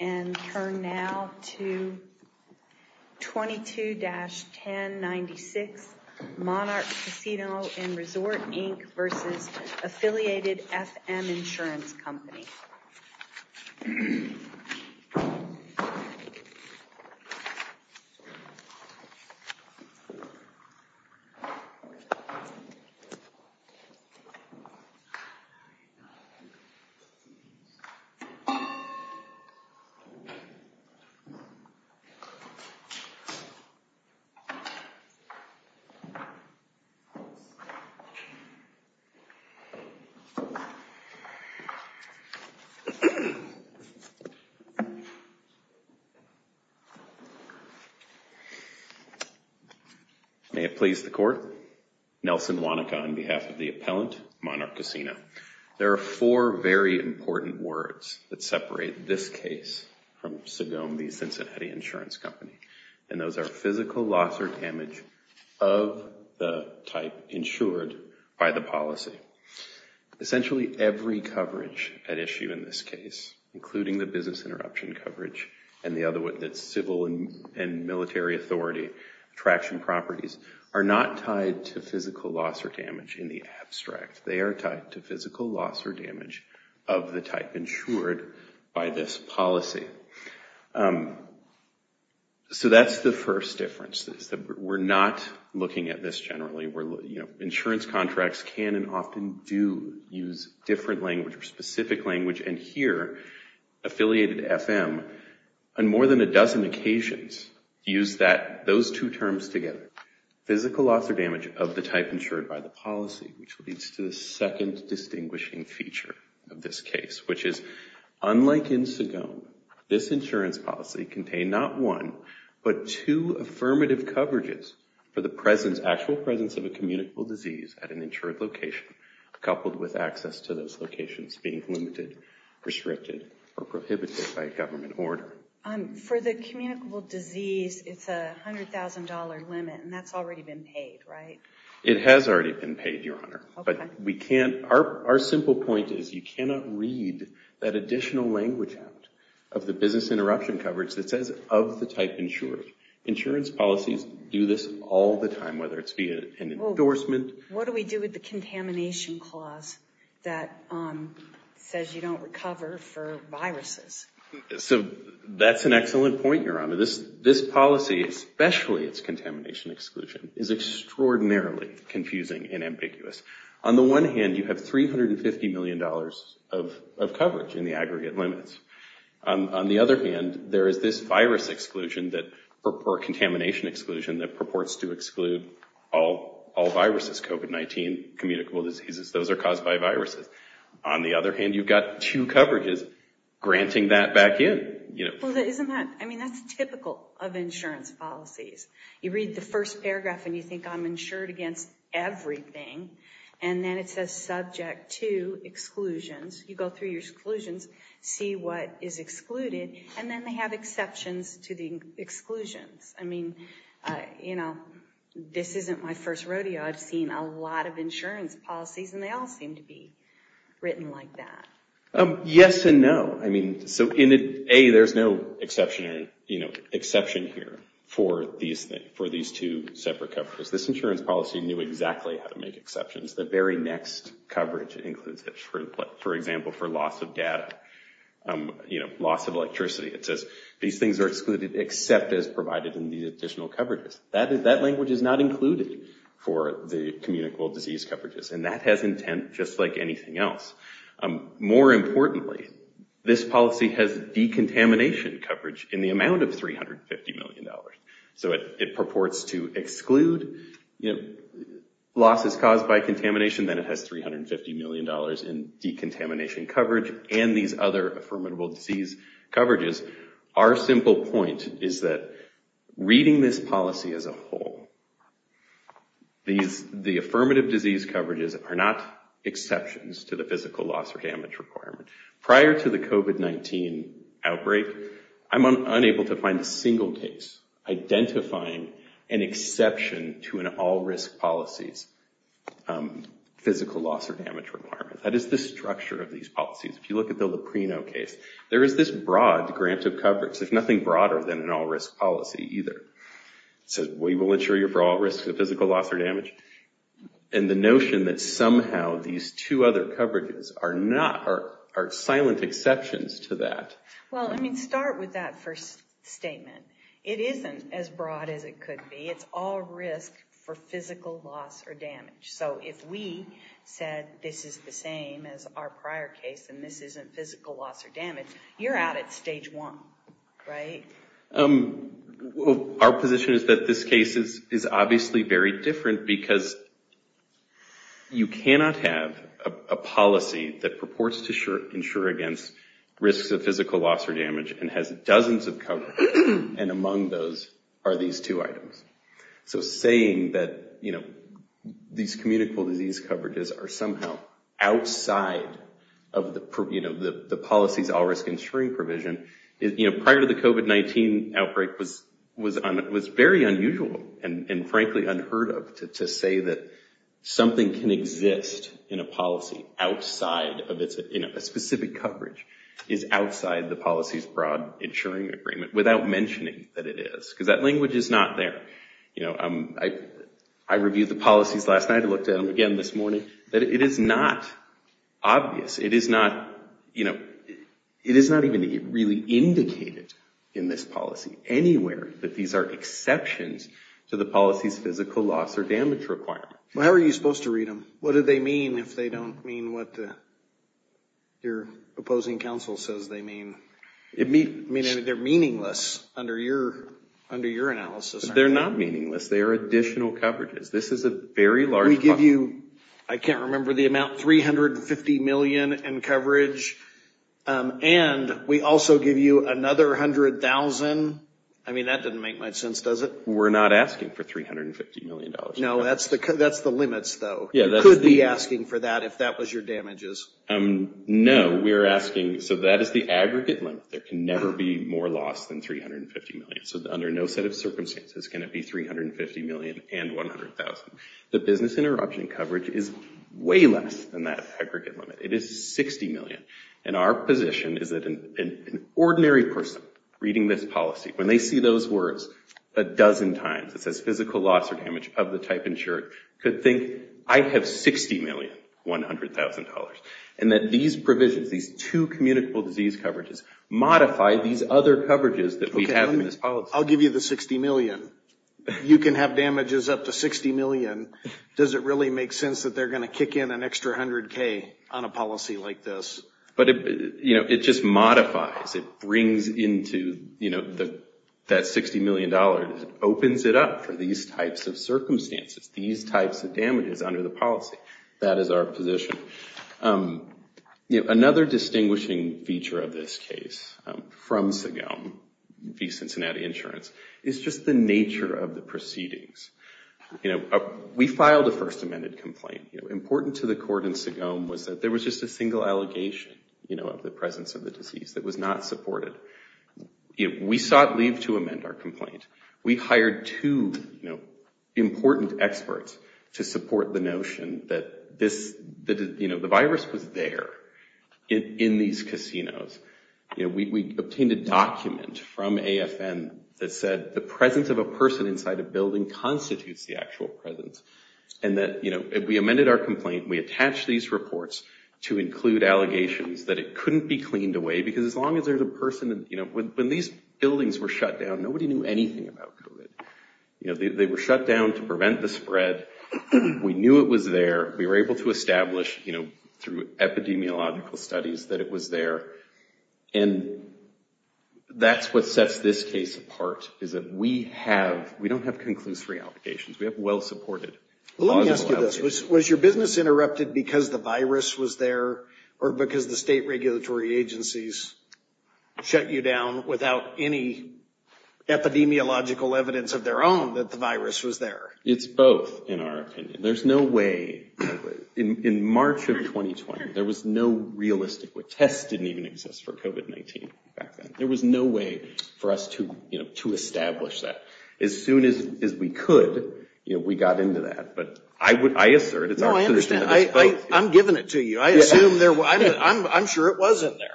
And turn now to 22-1096 Monarch Casino & Resort, Inc. v. Affiliated FM Insurance Company. May it please the Court, Nelson Wanaka on behalf of the Appellant, Monarch Casino. There are four very important words that separate this case from Sagome v. Cincinnati Insurance Company, and those are physical loss or damage of the type insured by the policy. Essentially every coverage at issue in this case, including the business interruption coverage and the other one that's civil and military authority, attraction properties, are not tied to physical loss or damage in the abstract. They are tied to physical loss or damage of the type insured by this policy. So that's the first difference. We're not looking at this generally. Insurance contracts can and often do use different language or specific language, and here, Affiliated FM, on more than a dozen occasions, use those two terms together. Physical loss or damage of the type insured by the policy, which leads to the second distinguishing feature of this case, which is unlike in Sagome, this insurance policy contained not one, but two affirmative coverages for the actual presence of a communicable disease at an insured location, coupled with access to those locations being limited, restricted, or prohibited by government order. For the communicable disease, it's a $100,000 limit, and that's already been paid, right? It has already been paid, Your Honor. Okay. But our simple point is you cannot read that additional language out of the business interruption coverage that says of the type insured. Insurance policies do this all the time, whether it's via an endorsement. What do we do with the contamination clause that says you don't recover for viruses? So that's an excellent point, Your Honor. This policy, especially its contamination exclusion, is extraordinarily confusing and ambiguous. On the one hand, you have $350 million of coverage in the aggregate limits. On the other hand, there is this virus exclusion or contamination exclusion that purports to exclude all viruses, COVID-19, communicable diseases. Those are caused by viruses. On the other hand, you've got two coverages granting that back in. Well, isn't that – I mean, that's typical of insurance policies. You read the first paragraph and you think I'm insured against everything, and then it says subject to exclusions. You go through your exclusions, see what is excluded, and then they have exceptions to the exclusions. I mean, you know, this isn't my first rodeo. I've seen a lot of insurance policies, and they all seem to be written like that. Yes and no. I mean, so A, there's no exception here for these two separate coverages. This insurance policy knew exactly how to make exceptions. The very next coverage includes it. For example, for loss of data, you know, loss of electricity. It says these things are excluded except as provided in these additional coverages. That language is not included for the communicable disease coverages, and that has intent just like anything else. More importantly, this policy has decontamination coverage in the amount of $350 million. So it purports to exclude losses caused by contamination, then it has $350 million in decontamination coverage and these other affirmative disease coverages. Our simple point is that reading this policy as a whole, the affirmative disease coverages are not exceptions to the physical loss or damage requirement. Prior to the COVID-19 outbreak, I'm unable to find a single case identifying an exception to an all-risk policies physical loss or damage requirement. That is the structure of these policies. If you look at the Loprino case, there is this broad grant of coverage. There's nothing broader than an all-risk policy either. It says we will insure you for all risks of physical loss or damage. And the notion that somehow these two other coverages are silent exceptions to that. Well, I mean, start with that first statement. It isn't as broad as it could be. It's all risk for physical loss or damage. So if we said this is the same as our prior case and this isn't physical loss or damage, you're out at stage one, right? Our position is that this case is obviously very different because you cannot have a policy that purports to insure against risks of physical loss or damage and has dozens of coverages. And among those are these two items. So saying that these communicable disease coverages are somehow outside of the policies all-risk insuring provision, prior to the COVID-19 outbreak was very unusual and frankly unheard of to say that something can exist in a policy outside of a specific coverage is outside the policies broad insuring agreement without mentioning that it is. Because that language is not there. I reviewed the policies last night and looked at them again this morning. It is not obvious. It is not even really indicated in this policy anywhere that these are exceptions to the policy's physical loss or damage requirement. How are you supposed to read them? What do they mean if they don't mean what your opposing counsel says they mean? I mean, they're meaningless under your analysis. They're not meaningless. They are additional coverages. We give you, I can't remember the amount, $350 million in coverage. And we also give you another $100,000. I mean, that doesn't make much sense, does it? We're not asking for $350 million. No, that's the limits, though. You could be asking for that if that was your damages. No, we're asking, so that is the aggregate limit. There can never be more loss than $350 million. So under no set of circumstances can it be $350 million and $100,000. The business interruption coverage is way less than that aggregate limit. It is $60 million. And our position is that an ordinary person reading this policy, when they see those words a dozen times, it says physical loss or damage of the type insured, could think, I have $60 million, $100,000. And that these provisions, these two communicable disease coverages, modify these other coverages that we have in this policy. I'll give you the $60 million. You can have damages up to $60 million. Does it really make sense that they're going to kick in an extra $100,000 on a policy like this? But, you know, it just modifies. It brings into, you know, that $60 million. It opens it up for these types of circumstances, these types of damages under the policy. That is our position. Another distinguishing feature of this case from Segome v. Cincinnati Insurance is just the nature of the proceedings. You know, we filed a first amended complaint. Important to the court in Segome was that there was just a single allegation, you know, of the presence of the disease that was not supported. We sought leave to amend our complaint. We hired two, you know, important experts to support the notion that this, you know, the virus was there in these casinos. You know, we obtained a document from AFN that said the presence of a person inside a building constitutes the actual presence. And that, you know, we amended our complaint. We attached these reports to include allegations that it couldn't be cleaned away. Because as long as there's a person, you know, when these buildings were shut down, nobody knew anything about COVID. You know, they were shut down to prevent the spread. We knew it was there. We were able to establish, you know, through epidemiological studies that it was there. And that's what sets this case apart, is that we have, we don't have conclusory allegations. We have well-supported logical allegations. Was your business interrupted because the virus was there or because the state regulatory agencies shut you down without any epidemiological evidence of their own that the virus was there? It's both, in our opinion. There's no way, in March of 2020, there was no realistic way. Tests didn't even exist for COVID-19 back then. There was no way for us to, you know, to establish that. As soon as we could, you know, we got into that. But I would, I assert, it's our position that it's both. No, I understand. I'm giving it to you. I assume there, I'm sure it was in there.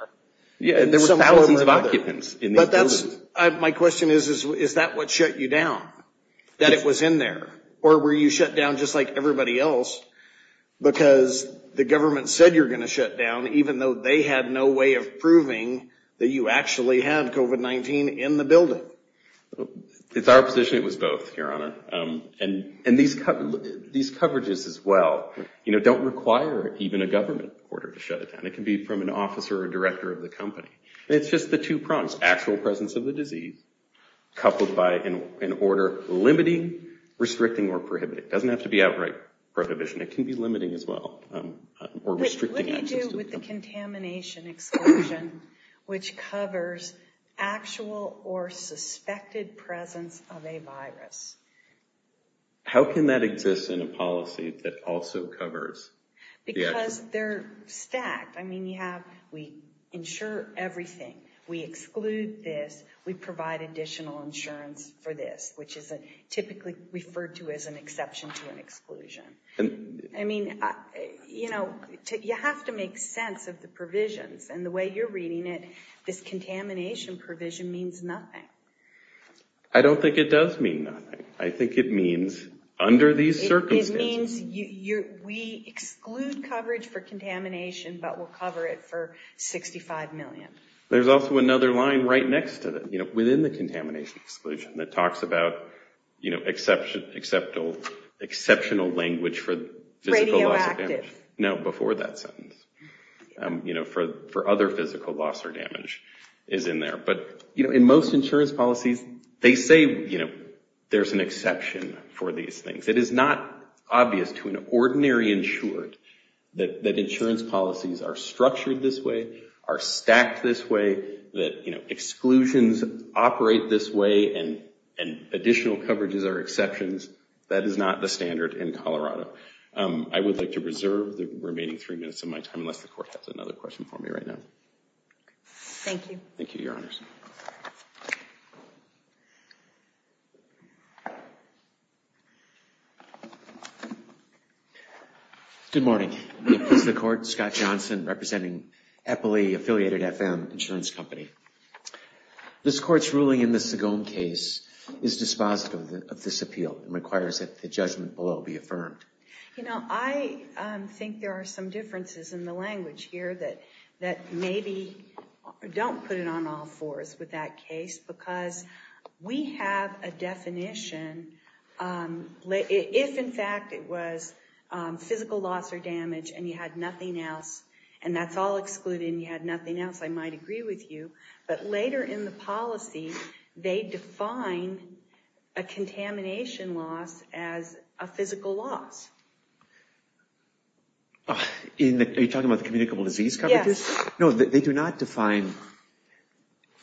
Yeah, there were thousands of occupants in these buildings. But that's, my question is, is that what shut you down? That it was in there? Or were you shut down just like everybody else? Because the government said you're going to shut down, even though they had no way of proving that you actually had COVID-19 in the building. It's our position it was both, Your Honor. And these coverages as well, you know, don't require even a government order to shut it down. It can be from an officer or director of the company. It's just the two prongs. Actual presence of the disease, coupled by an order limiting, restricting, or prohibiting. It doesn't have to be outright prohibition. It can be limiting as well, or restricting access. It comes with the contamination exclusion, which covers actual or suspected presence of a virus. How can that exist in a policy that also covers? Because they're stacked. I mean, you have, we insure everything. We exclude this. We provide additional insurance for this, which is typically referred to as an exception to an exclusion. I mean, you know, you have to make sense of the provisions. And the way you're reading it, this contamination provision means nothing. I don't think it does mean nothing. I think it means under these circumstances. It means we exclude coverage for contamination, but we'll cover it for $65 million. There's also another line right next to that, you know, within the contamination exclusion that talks about, you know, exceptional language for physical loss or damage. Radioactive. No, before that sentence. You know, for other physical loss or damage is in there. But, you know, in most insurance policies, they say, you know, there's an exception for these things. It is not obvious to an ordinary insured that insurance policies are structured this way, are stacked this way, that, you know, exclusions operate this way and additional coverages are exceptions. That is not the standard in Colorado. I would like to reserve the remaining three minutes of my time unless the court has another question for me right now. Thank you. Thank you, Your Honors. Good morning. This is the court, Scott Johnson, representing Eppley Affiliated FM Insurance Company. This court's ruling in the Sagome case is dispositive of this appeal and requires that the judgment below be affirmed. You know, I think there are some differences in the language here that maybe don't put it on all fours with that case because we have a definition. If, in fact, it was physical loss or damage and you had nothing else and that's all excluded and you had nothing else, I might agree with you. But later in the policy, they define a contamination loss as a physical loss. Are you talking about the communicable disease coverages? Yes. No, they do not define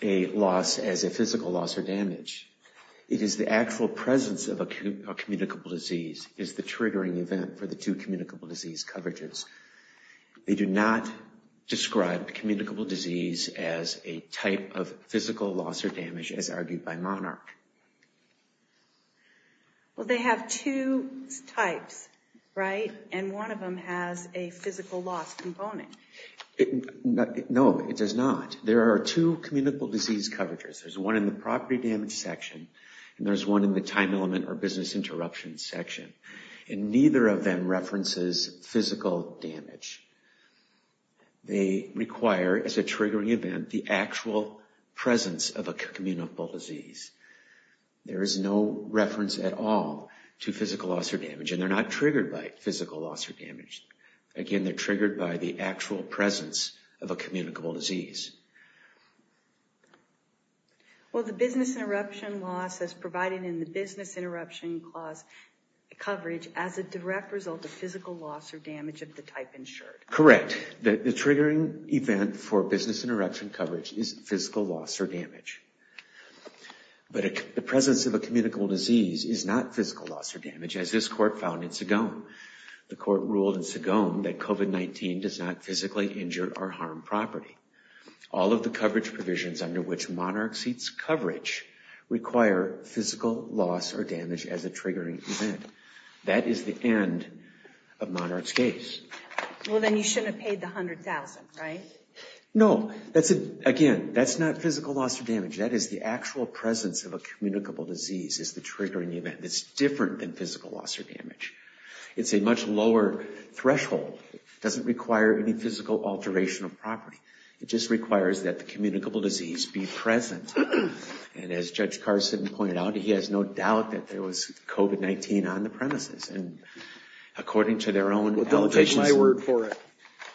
a loss as a physical loss or damage. It is the actual presence of a communicable disease is the triggering event for the two communicable disease coverages. They do not describe communicable disease as a type of physical loss or damage as argued by Monarch. Well, they have two types, right? And one of them has a physical loss component. No, it does not. There are two communicable disease coverages. There's one in the property damage section and there's one in the time element or business interruption section. And neither of them references physical damage. They require as a triggering event the actual presence of a communicable disease. There is no reference at all to physical loss or damage and they're not triggered by physical loss or damage. Again, they're triggered by the actual presence of a communicable disease. Well, the business interruption loss is provided in the business interruption coverage as a direct result of physical loss or damage of the type insured. Correct. The triggering event for business interruption coverage is physical loss or damage. But the presence of a communicable disease is not physical loss or damage as this court found in Sagome. The court ruled in Sagome that COVID-19 does not physically injure or harm property. All of the coverage provisions under which Monarch seeks coverage require physical loss or damage as a triggering event. That is the end of Monarch's case. Well, then you shouldn't have paid the $100,000, right? No. Again, that's not physical loss or damage. That is the actual presence of a communicable disease is the triggering event. It's different than physical loss or damage. It's a much lower threshold. It doesn't require any physical alteration of property. It just requires that the communicable disease be present. And as Judge Carson pointed out, he has no doubt that there was COVID-19 on the premises. And according to their own allegations… Well, don't take my word for it.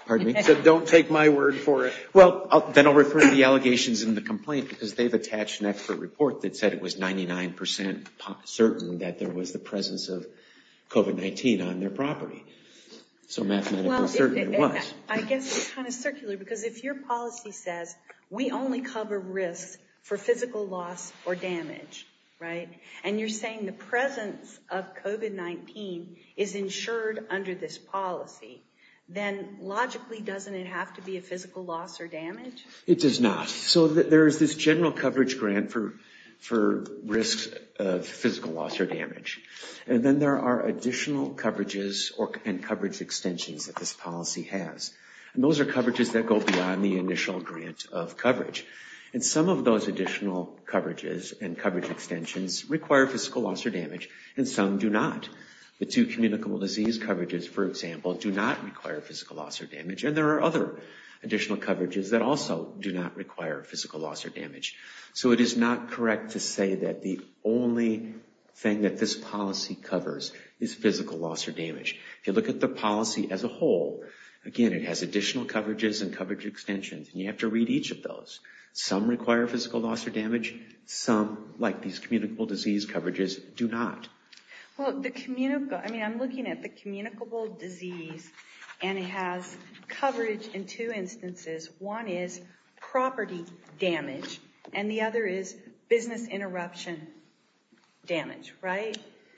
Pardon me? Don't take my word for it. Well, then I'll refer to the allegations in the complaint because they've attached an expert report that said it was 99% certain that there was the presence of COVID-19 on their property. So mathematically, it certainly was. I guess it's kind of circular because if your policy says, we only cover risks for physical loss or damage, right? And you're saying the presence of COVID-19 is insured under this policy. Then logically, doesn't it have to be a physical loss or damage? It does not. So there is this general coverage grant for risks of physical loss or damage. And then there are additional coverages and coverage extensions that this policy has. And those are coverages that go beyond the initial grant of coverage. And some of those additional coverages and coverage extensions require physical loss or damage, and some do not. The two communicable disease coverages, for example, do not require physical loss or damage. And there are other additional coverages that also do not require physical loss or damage. So it is not correct to say that the only thing that this policy covers is physical loss or damage. If you look at the policy as a whole, again, it has additional coverages and coverage extensions. And you have to read each of those. Some require physical loss or damage. Some, like these communicable disease coverages, do not. Well, I'm looking at the communicable disease, and it has coverage in two instances. One is property damage, and the other is business interruption damage, right?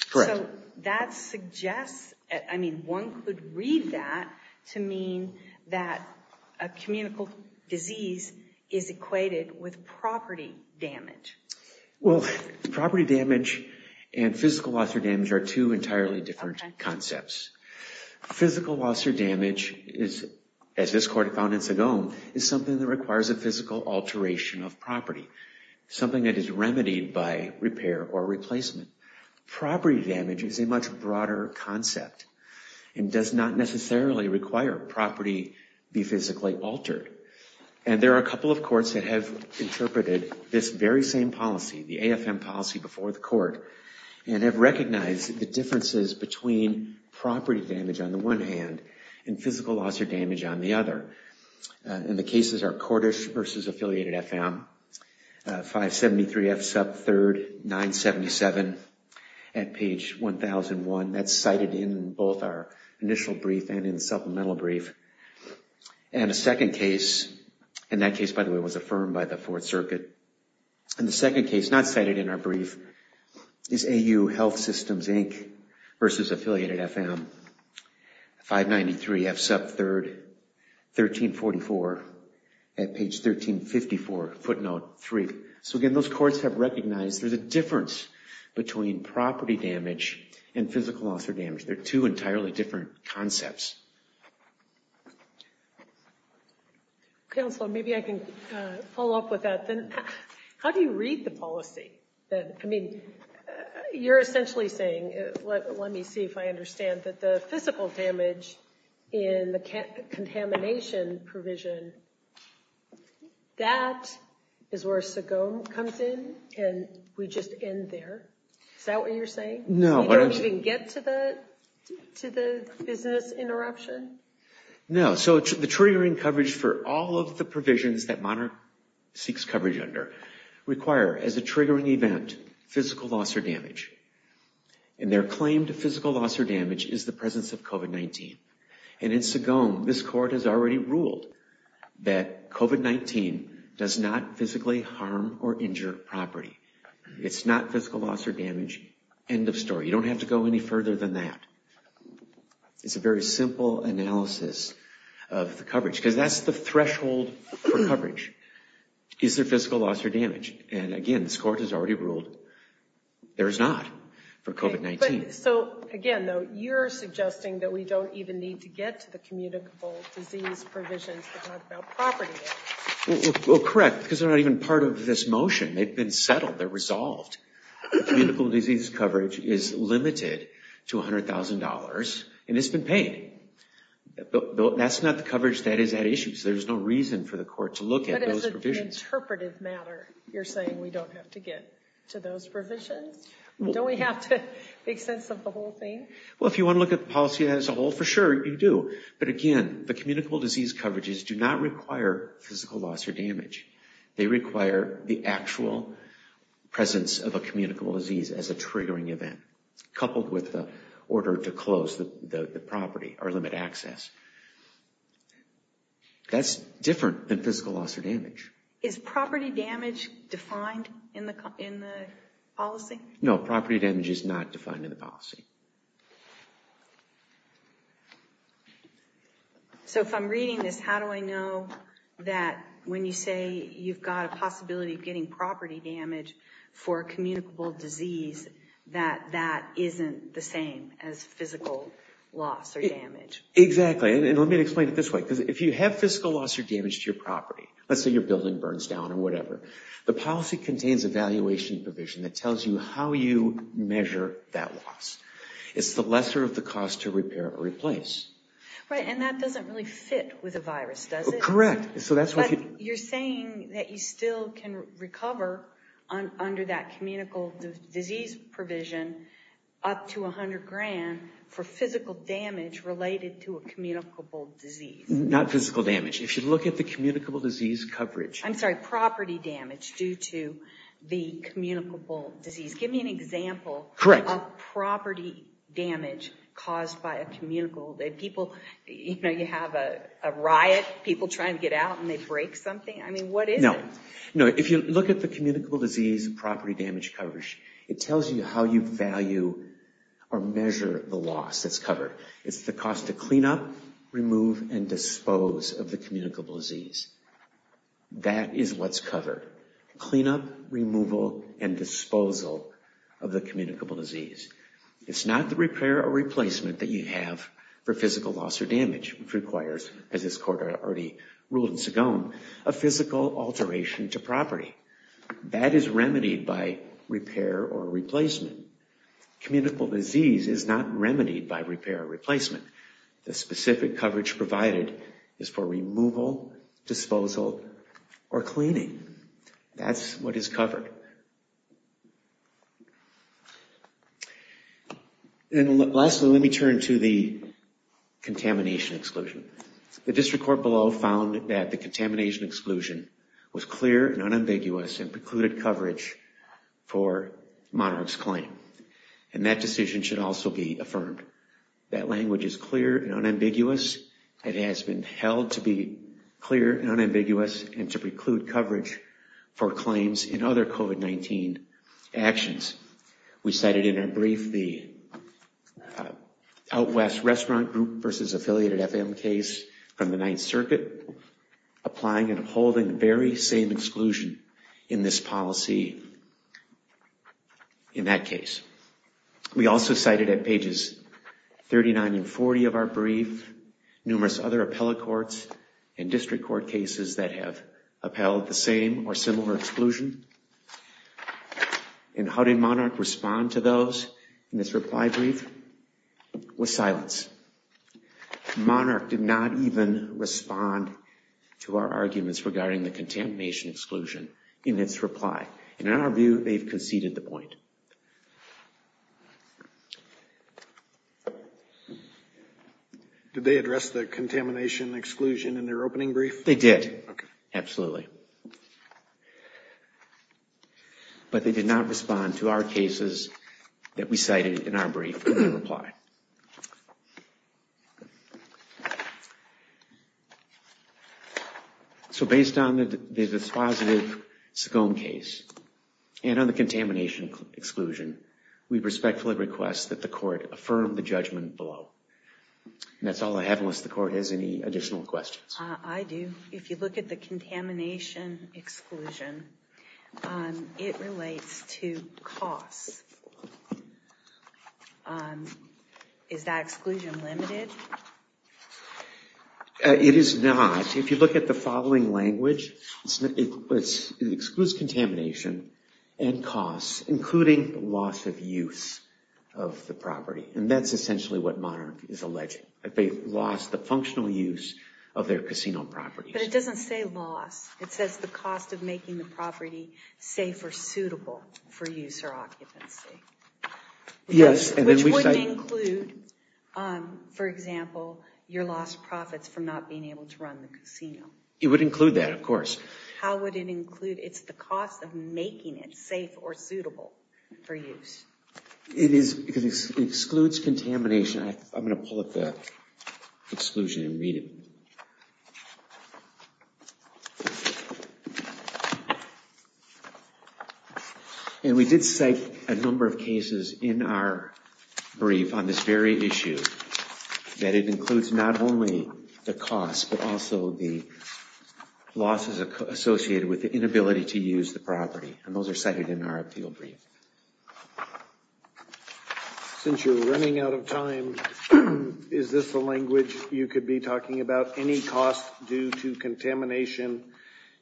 Correct. So that suggests, I mean, one could read that to mean that a communicable disease is equated with property damage. Well, property damage and physical loss or damage are two entirely different concepts. Physical loss or damage is, as this Court found in Sagome, is something that requires a physical alteration of property, something that is remedied by repair or replacement. Property damage is a much broader concept and does not necessarily require property be physically altered. And there are a couple of courts that have interpreted this very same policy, the AFM policy before the Court, and have recognized the differences between property damage on the one hand and physical loss or damage on the other. And the cases are Cordish v. Affiliated FM, 573F sub 3rd, 977 at page 1001. That's cited in both our initial brief and in the supplemental brief. And a second case, and that case, by the way, was affirmed by the Fourth Circuit. And the second case not cited in our brief is AU Health Systems, Inc. v. Affiliated FM, 593F sub 3rd, 1344 at page 1354, footnote 3. So again, those courts have recognized there's a difference between property damage and physical loss or damage. They're two entirely different concepts. Counselor, maybe I can follow up with that then. How do you read the policy? I mean, you're essentially saying, let me see if I understand, that the physical damage in the contamination provision, that is where SOGOME comes in and we just end there. Is that what you're saying? No. You don't even get to the business interruption? No. So the triggering coverage for all of the provisions that Monarch seeks coverage under require, as a triggering event, physical loss or damage. And their claim to physical loss or damage is the presence of COVID-19. And in SOGOME, this court has already ruled that COVID-19 does not physically harm or injure property. It's not physical loss or damage. End of story. You don't have to go any further than that. It's a very simple analysis of the coverage, because that's the threshold for coverage. Is there physical loss or damage? And again, this court has already ruled there is not for COVID-19. So again, though, you're suggesting that we don't even need to get to the communicable disease provisions to talk about property damage. Well, correct, because they're not even part of this motion. They've been settled. They're resolved. The communicable disease coverage is limited to $100,000, and it's been paid. That's not the coverage that is at issue, so there's no reason for the court to look at those provisions. But as an interpretive matter, you're saying we don't have to get to those provisions? Don't we have to make sense of the whole thing? Well, if you want to look at the policy as a whole, for sure you do. But again, the communicable disease coverages do not require physical loss or damage. They require the actual presence of a communicable disease as a triggering event, coupled with the order to close the property or limit access. That's different than physical loss or damage. Is property damage defined in the policy? No, property damage is not defined in the policy. So if I'm reading this, how do I know that when you say you've got a possibility of getting property damage for a communicable disease, that that isn't the same as physical loss or damage? Exactly. And let me explain it this way. Because if you have physical loss or damage to your property, let's say your building burns down or whatever, the policy contains a valuation provision that tells you how you measure that loss. It's the lesser of the cost to repair or replace. Right, and that doesn't really fit with a virus, does it? Correct. But you're saying that you still can recover under that communicable disease provision up to $100,000 for physical damage related to a communicable disease. Not physical damage. If you look at the communicable disease coverage. I'm sorry, property damage due to the communicable disease. Give me an example of property damage caused by a communicable disease. People, you know, you have a riot. People try and get out and they break something. I mean, what is it? No, if you look at the communicable disease property damage coverage, it tells you how you value or measure the loss that's covered. It's the cost to clean up, remove, and dispose of the communicable disease. That is what's covered. Clean up, removal, and disposal of the communicable disease. It's not the repair or replacement that you have for physical loss or damage, which requires, as this Court already ruled in Segone, a physical alteration to property. That is remedied by repair or replacement. Communicable disease is not remedied by repair or replacement. The specific coverage provided is for removal, disposal, or cleaning. That's what is covered. And lastly, let me turn to the contamination exclusion. The District Court below found that the contamination exclusion was clear and unambiguous and precluded coverage for Monarch's claim. And that decision should also be affirmed. That language is clear and unambiguous. It has been held to be clear and unambiguous and to preclude coverage for claims in other COVID-19 actions. We cited in our brief the Out West Restaurant Group v. Affiliated FM case from the Ninth Circuit, applying and upholding the very same exclusion in this policy, in that case. We also cited at pages 39 and 40 of our brief numerous other appellate courts and district court cases that have upheld the same or similar exclusion. And how did Monarch respond to those in this reply brief? With silence. Monarch did not even respond to our arguments regarding the contamination exclusion in its reply. And in our view, they've conceded the point. Did they address the contamination exclusion in their opening brief? They did. Absolutely. But they did not respond to our cases that we cited in our brief in their reply. So based on the dispositive SCOAN case and on the contamination exclusion, we respectfully request that the court affirm the judgment below. And that's all I have unless the court has any additional questions. I do. If you look at the contamination exclusion, it relates to costs. Is that exclusion limited? It is not. If you look at the following language, it excludes contamination and costs, including loss of use of the property. And that's essentially what Monarch is alleging, that they've lost the functional use of their casino properties. But it doesn't say loss. It says the cost of making the property safe or suitable for use or occupancy. Yes. Which wouldn't include, for example, your lost profits from not being able to run the casino. It would include that, of course. How would it include? It's the cost of making it safe or suitable for use. It excludes contamination. I'm going to pull up the exclusion and read it. And we did cite a number of cases in our brief on this very issue, that it includes not only the cost but also the losses associated with the inability to use the property. And those are cited in our appeal brief. Since you're running out of time, is this the language you could be talking about? Any cost due to contamination,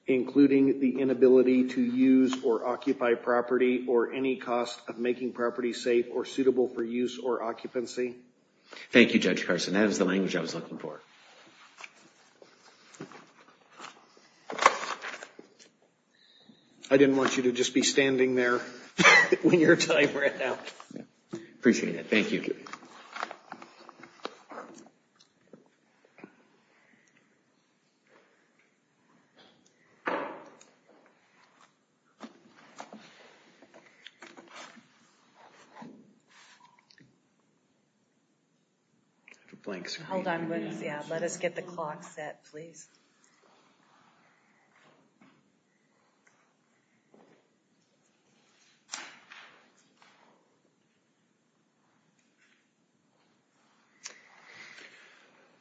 including the inability to use or occupy property, or any cost of making property safe or suitable for use or occupancy? Thank you, Judge Carson. That is the language I was looking for. I didn't want you to just be standing there when your time ran out. Appreciate it. Thank you. Thank you. Let us get the clock set, please.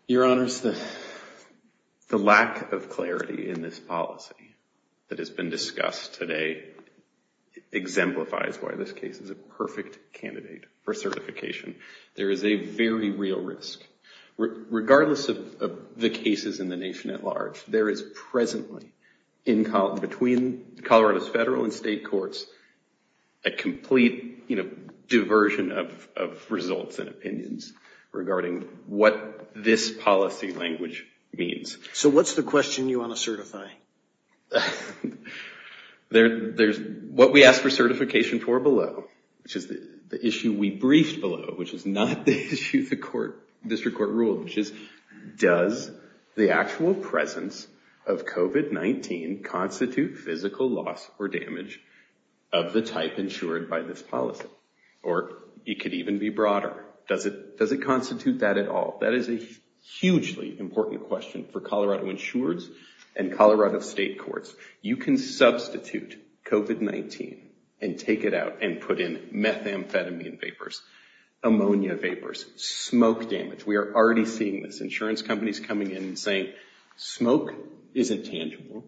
Your Honors, the lack of clarity in this policy that has been discussed today exemplifies why this case is a perfect candidate for certification. There is a very real risk. Regardless of the cases in the nation at large, there is presently, between Colorado's federal and state courts, a complete diversion of results and opinions regarding what this policy language means. So what's the question you want to certify? What we ask for certification for below, which is the issue we briefed below, which is not the issue the district court ruled, which is does the actual presence of COVID-19 constitute physical loss or damage of the type insured by this policy? Or it could even be broader. Does it constitute that at all? That is a hugely important question for Colorado insurers and Colorado state courts. You can substitute COVID-19 and take it out and put in methamphetamine vapors, ammonia vapors, smoke damage. We are already seeing this. Insurance companies coming in and saying smoke isn't tangible.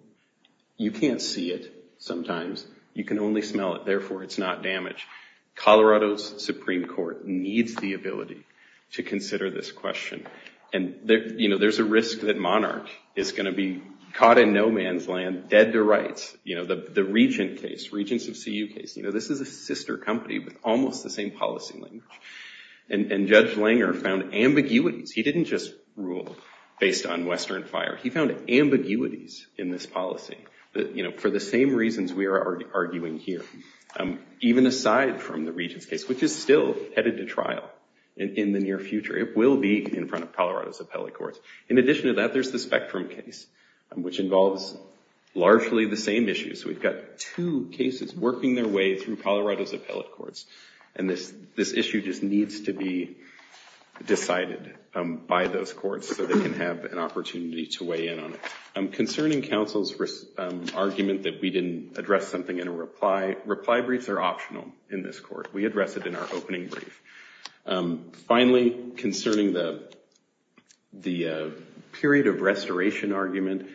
You can't see it sometimes. You can only smell it. Therefore, it's not damage. Colorado's Supreme Court needs the ability to consider this question. And there's a risk that Monarch is going to be caught in no man's land, dead to rights. The Regent case, Regents of CU case, this is a sister company with almost the same policy language. And Judge Langer found ambiguities. He didn't just rule based on Western fire. He found ambiguities in this policy for the same reasons we are arguing here. Even aside from the Regents case, which is still headed to trial in the near future. It will be in front of Colorado's appellate courts. In addition to that, there's the Spectrum case, which involves largely the same issues. We've got two cases working their way through Colorado's appellate courts. And this issue just needs to be decided by those courts so they can have an opportunity to weigh in on it. Concerning counsel's argument that we didn't address something in a reply, reply briefs are optional in this court. We address it in our opening brief. Finally, concerning the period of restoration argument,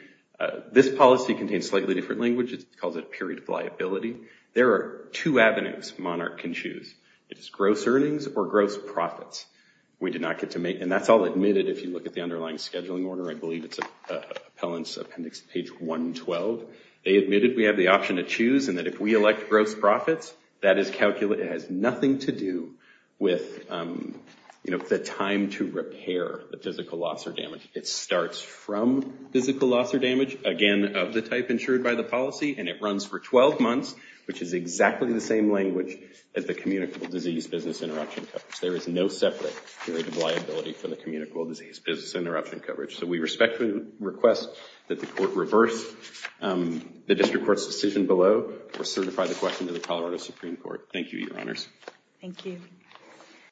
this policy contains slightly different language. It's called a period of liability. There are two avenues Monarch can choose. It's gross earnings or gross profits. We did not get to make, and that's all admitted if you look at the underlying scheduling order. I believe it's appellant's appendix page 112. They admitted we have the option to choose and that if we elect gross profits, that is calculated. It has nothing to do with the time to repair the physical loss or damage. It starts from physical loss or damage, again, of the type insured by the policy. And it runs for 12 months, which is exactly the same language as the communicable disease business interruption coverage. There is no separate period of liability for the communicable disease business interruption coverage. So we respectfully request that the court reverse the district court's decision below or certify the question to the Colorado Supreme Court. Thank you, Your Honors. Thank you.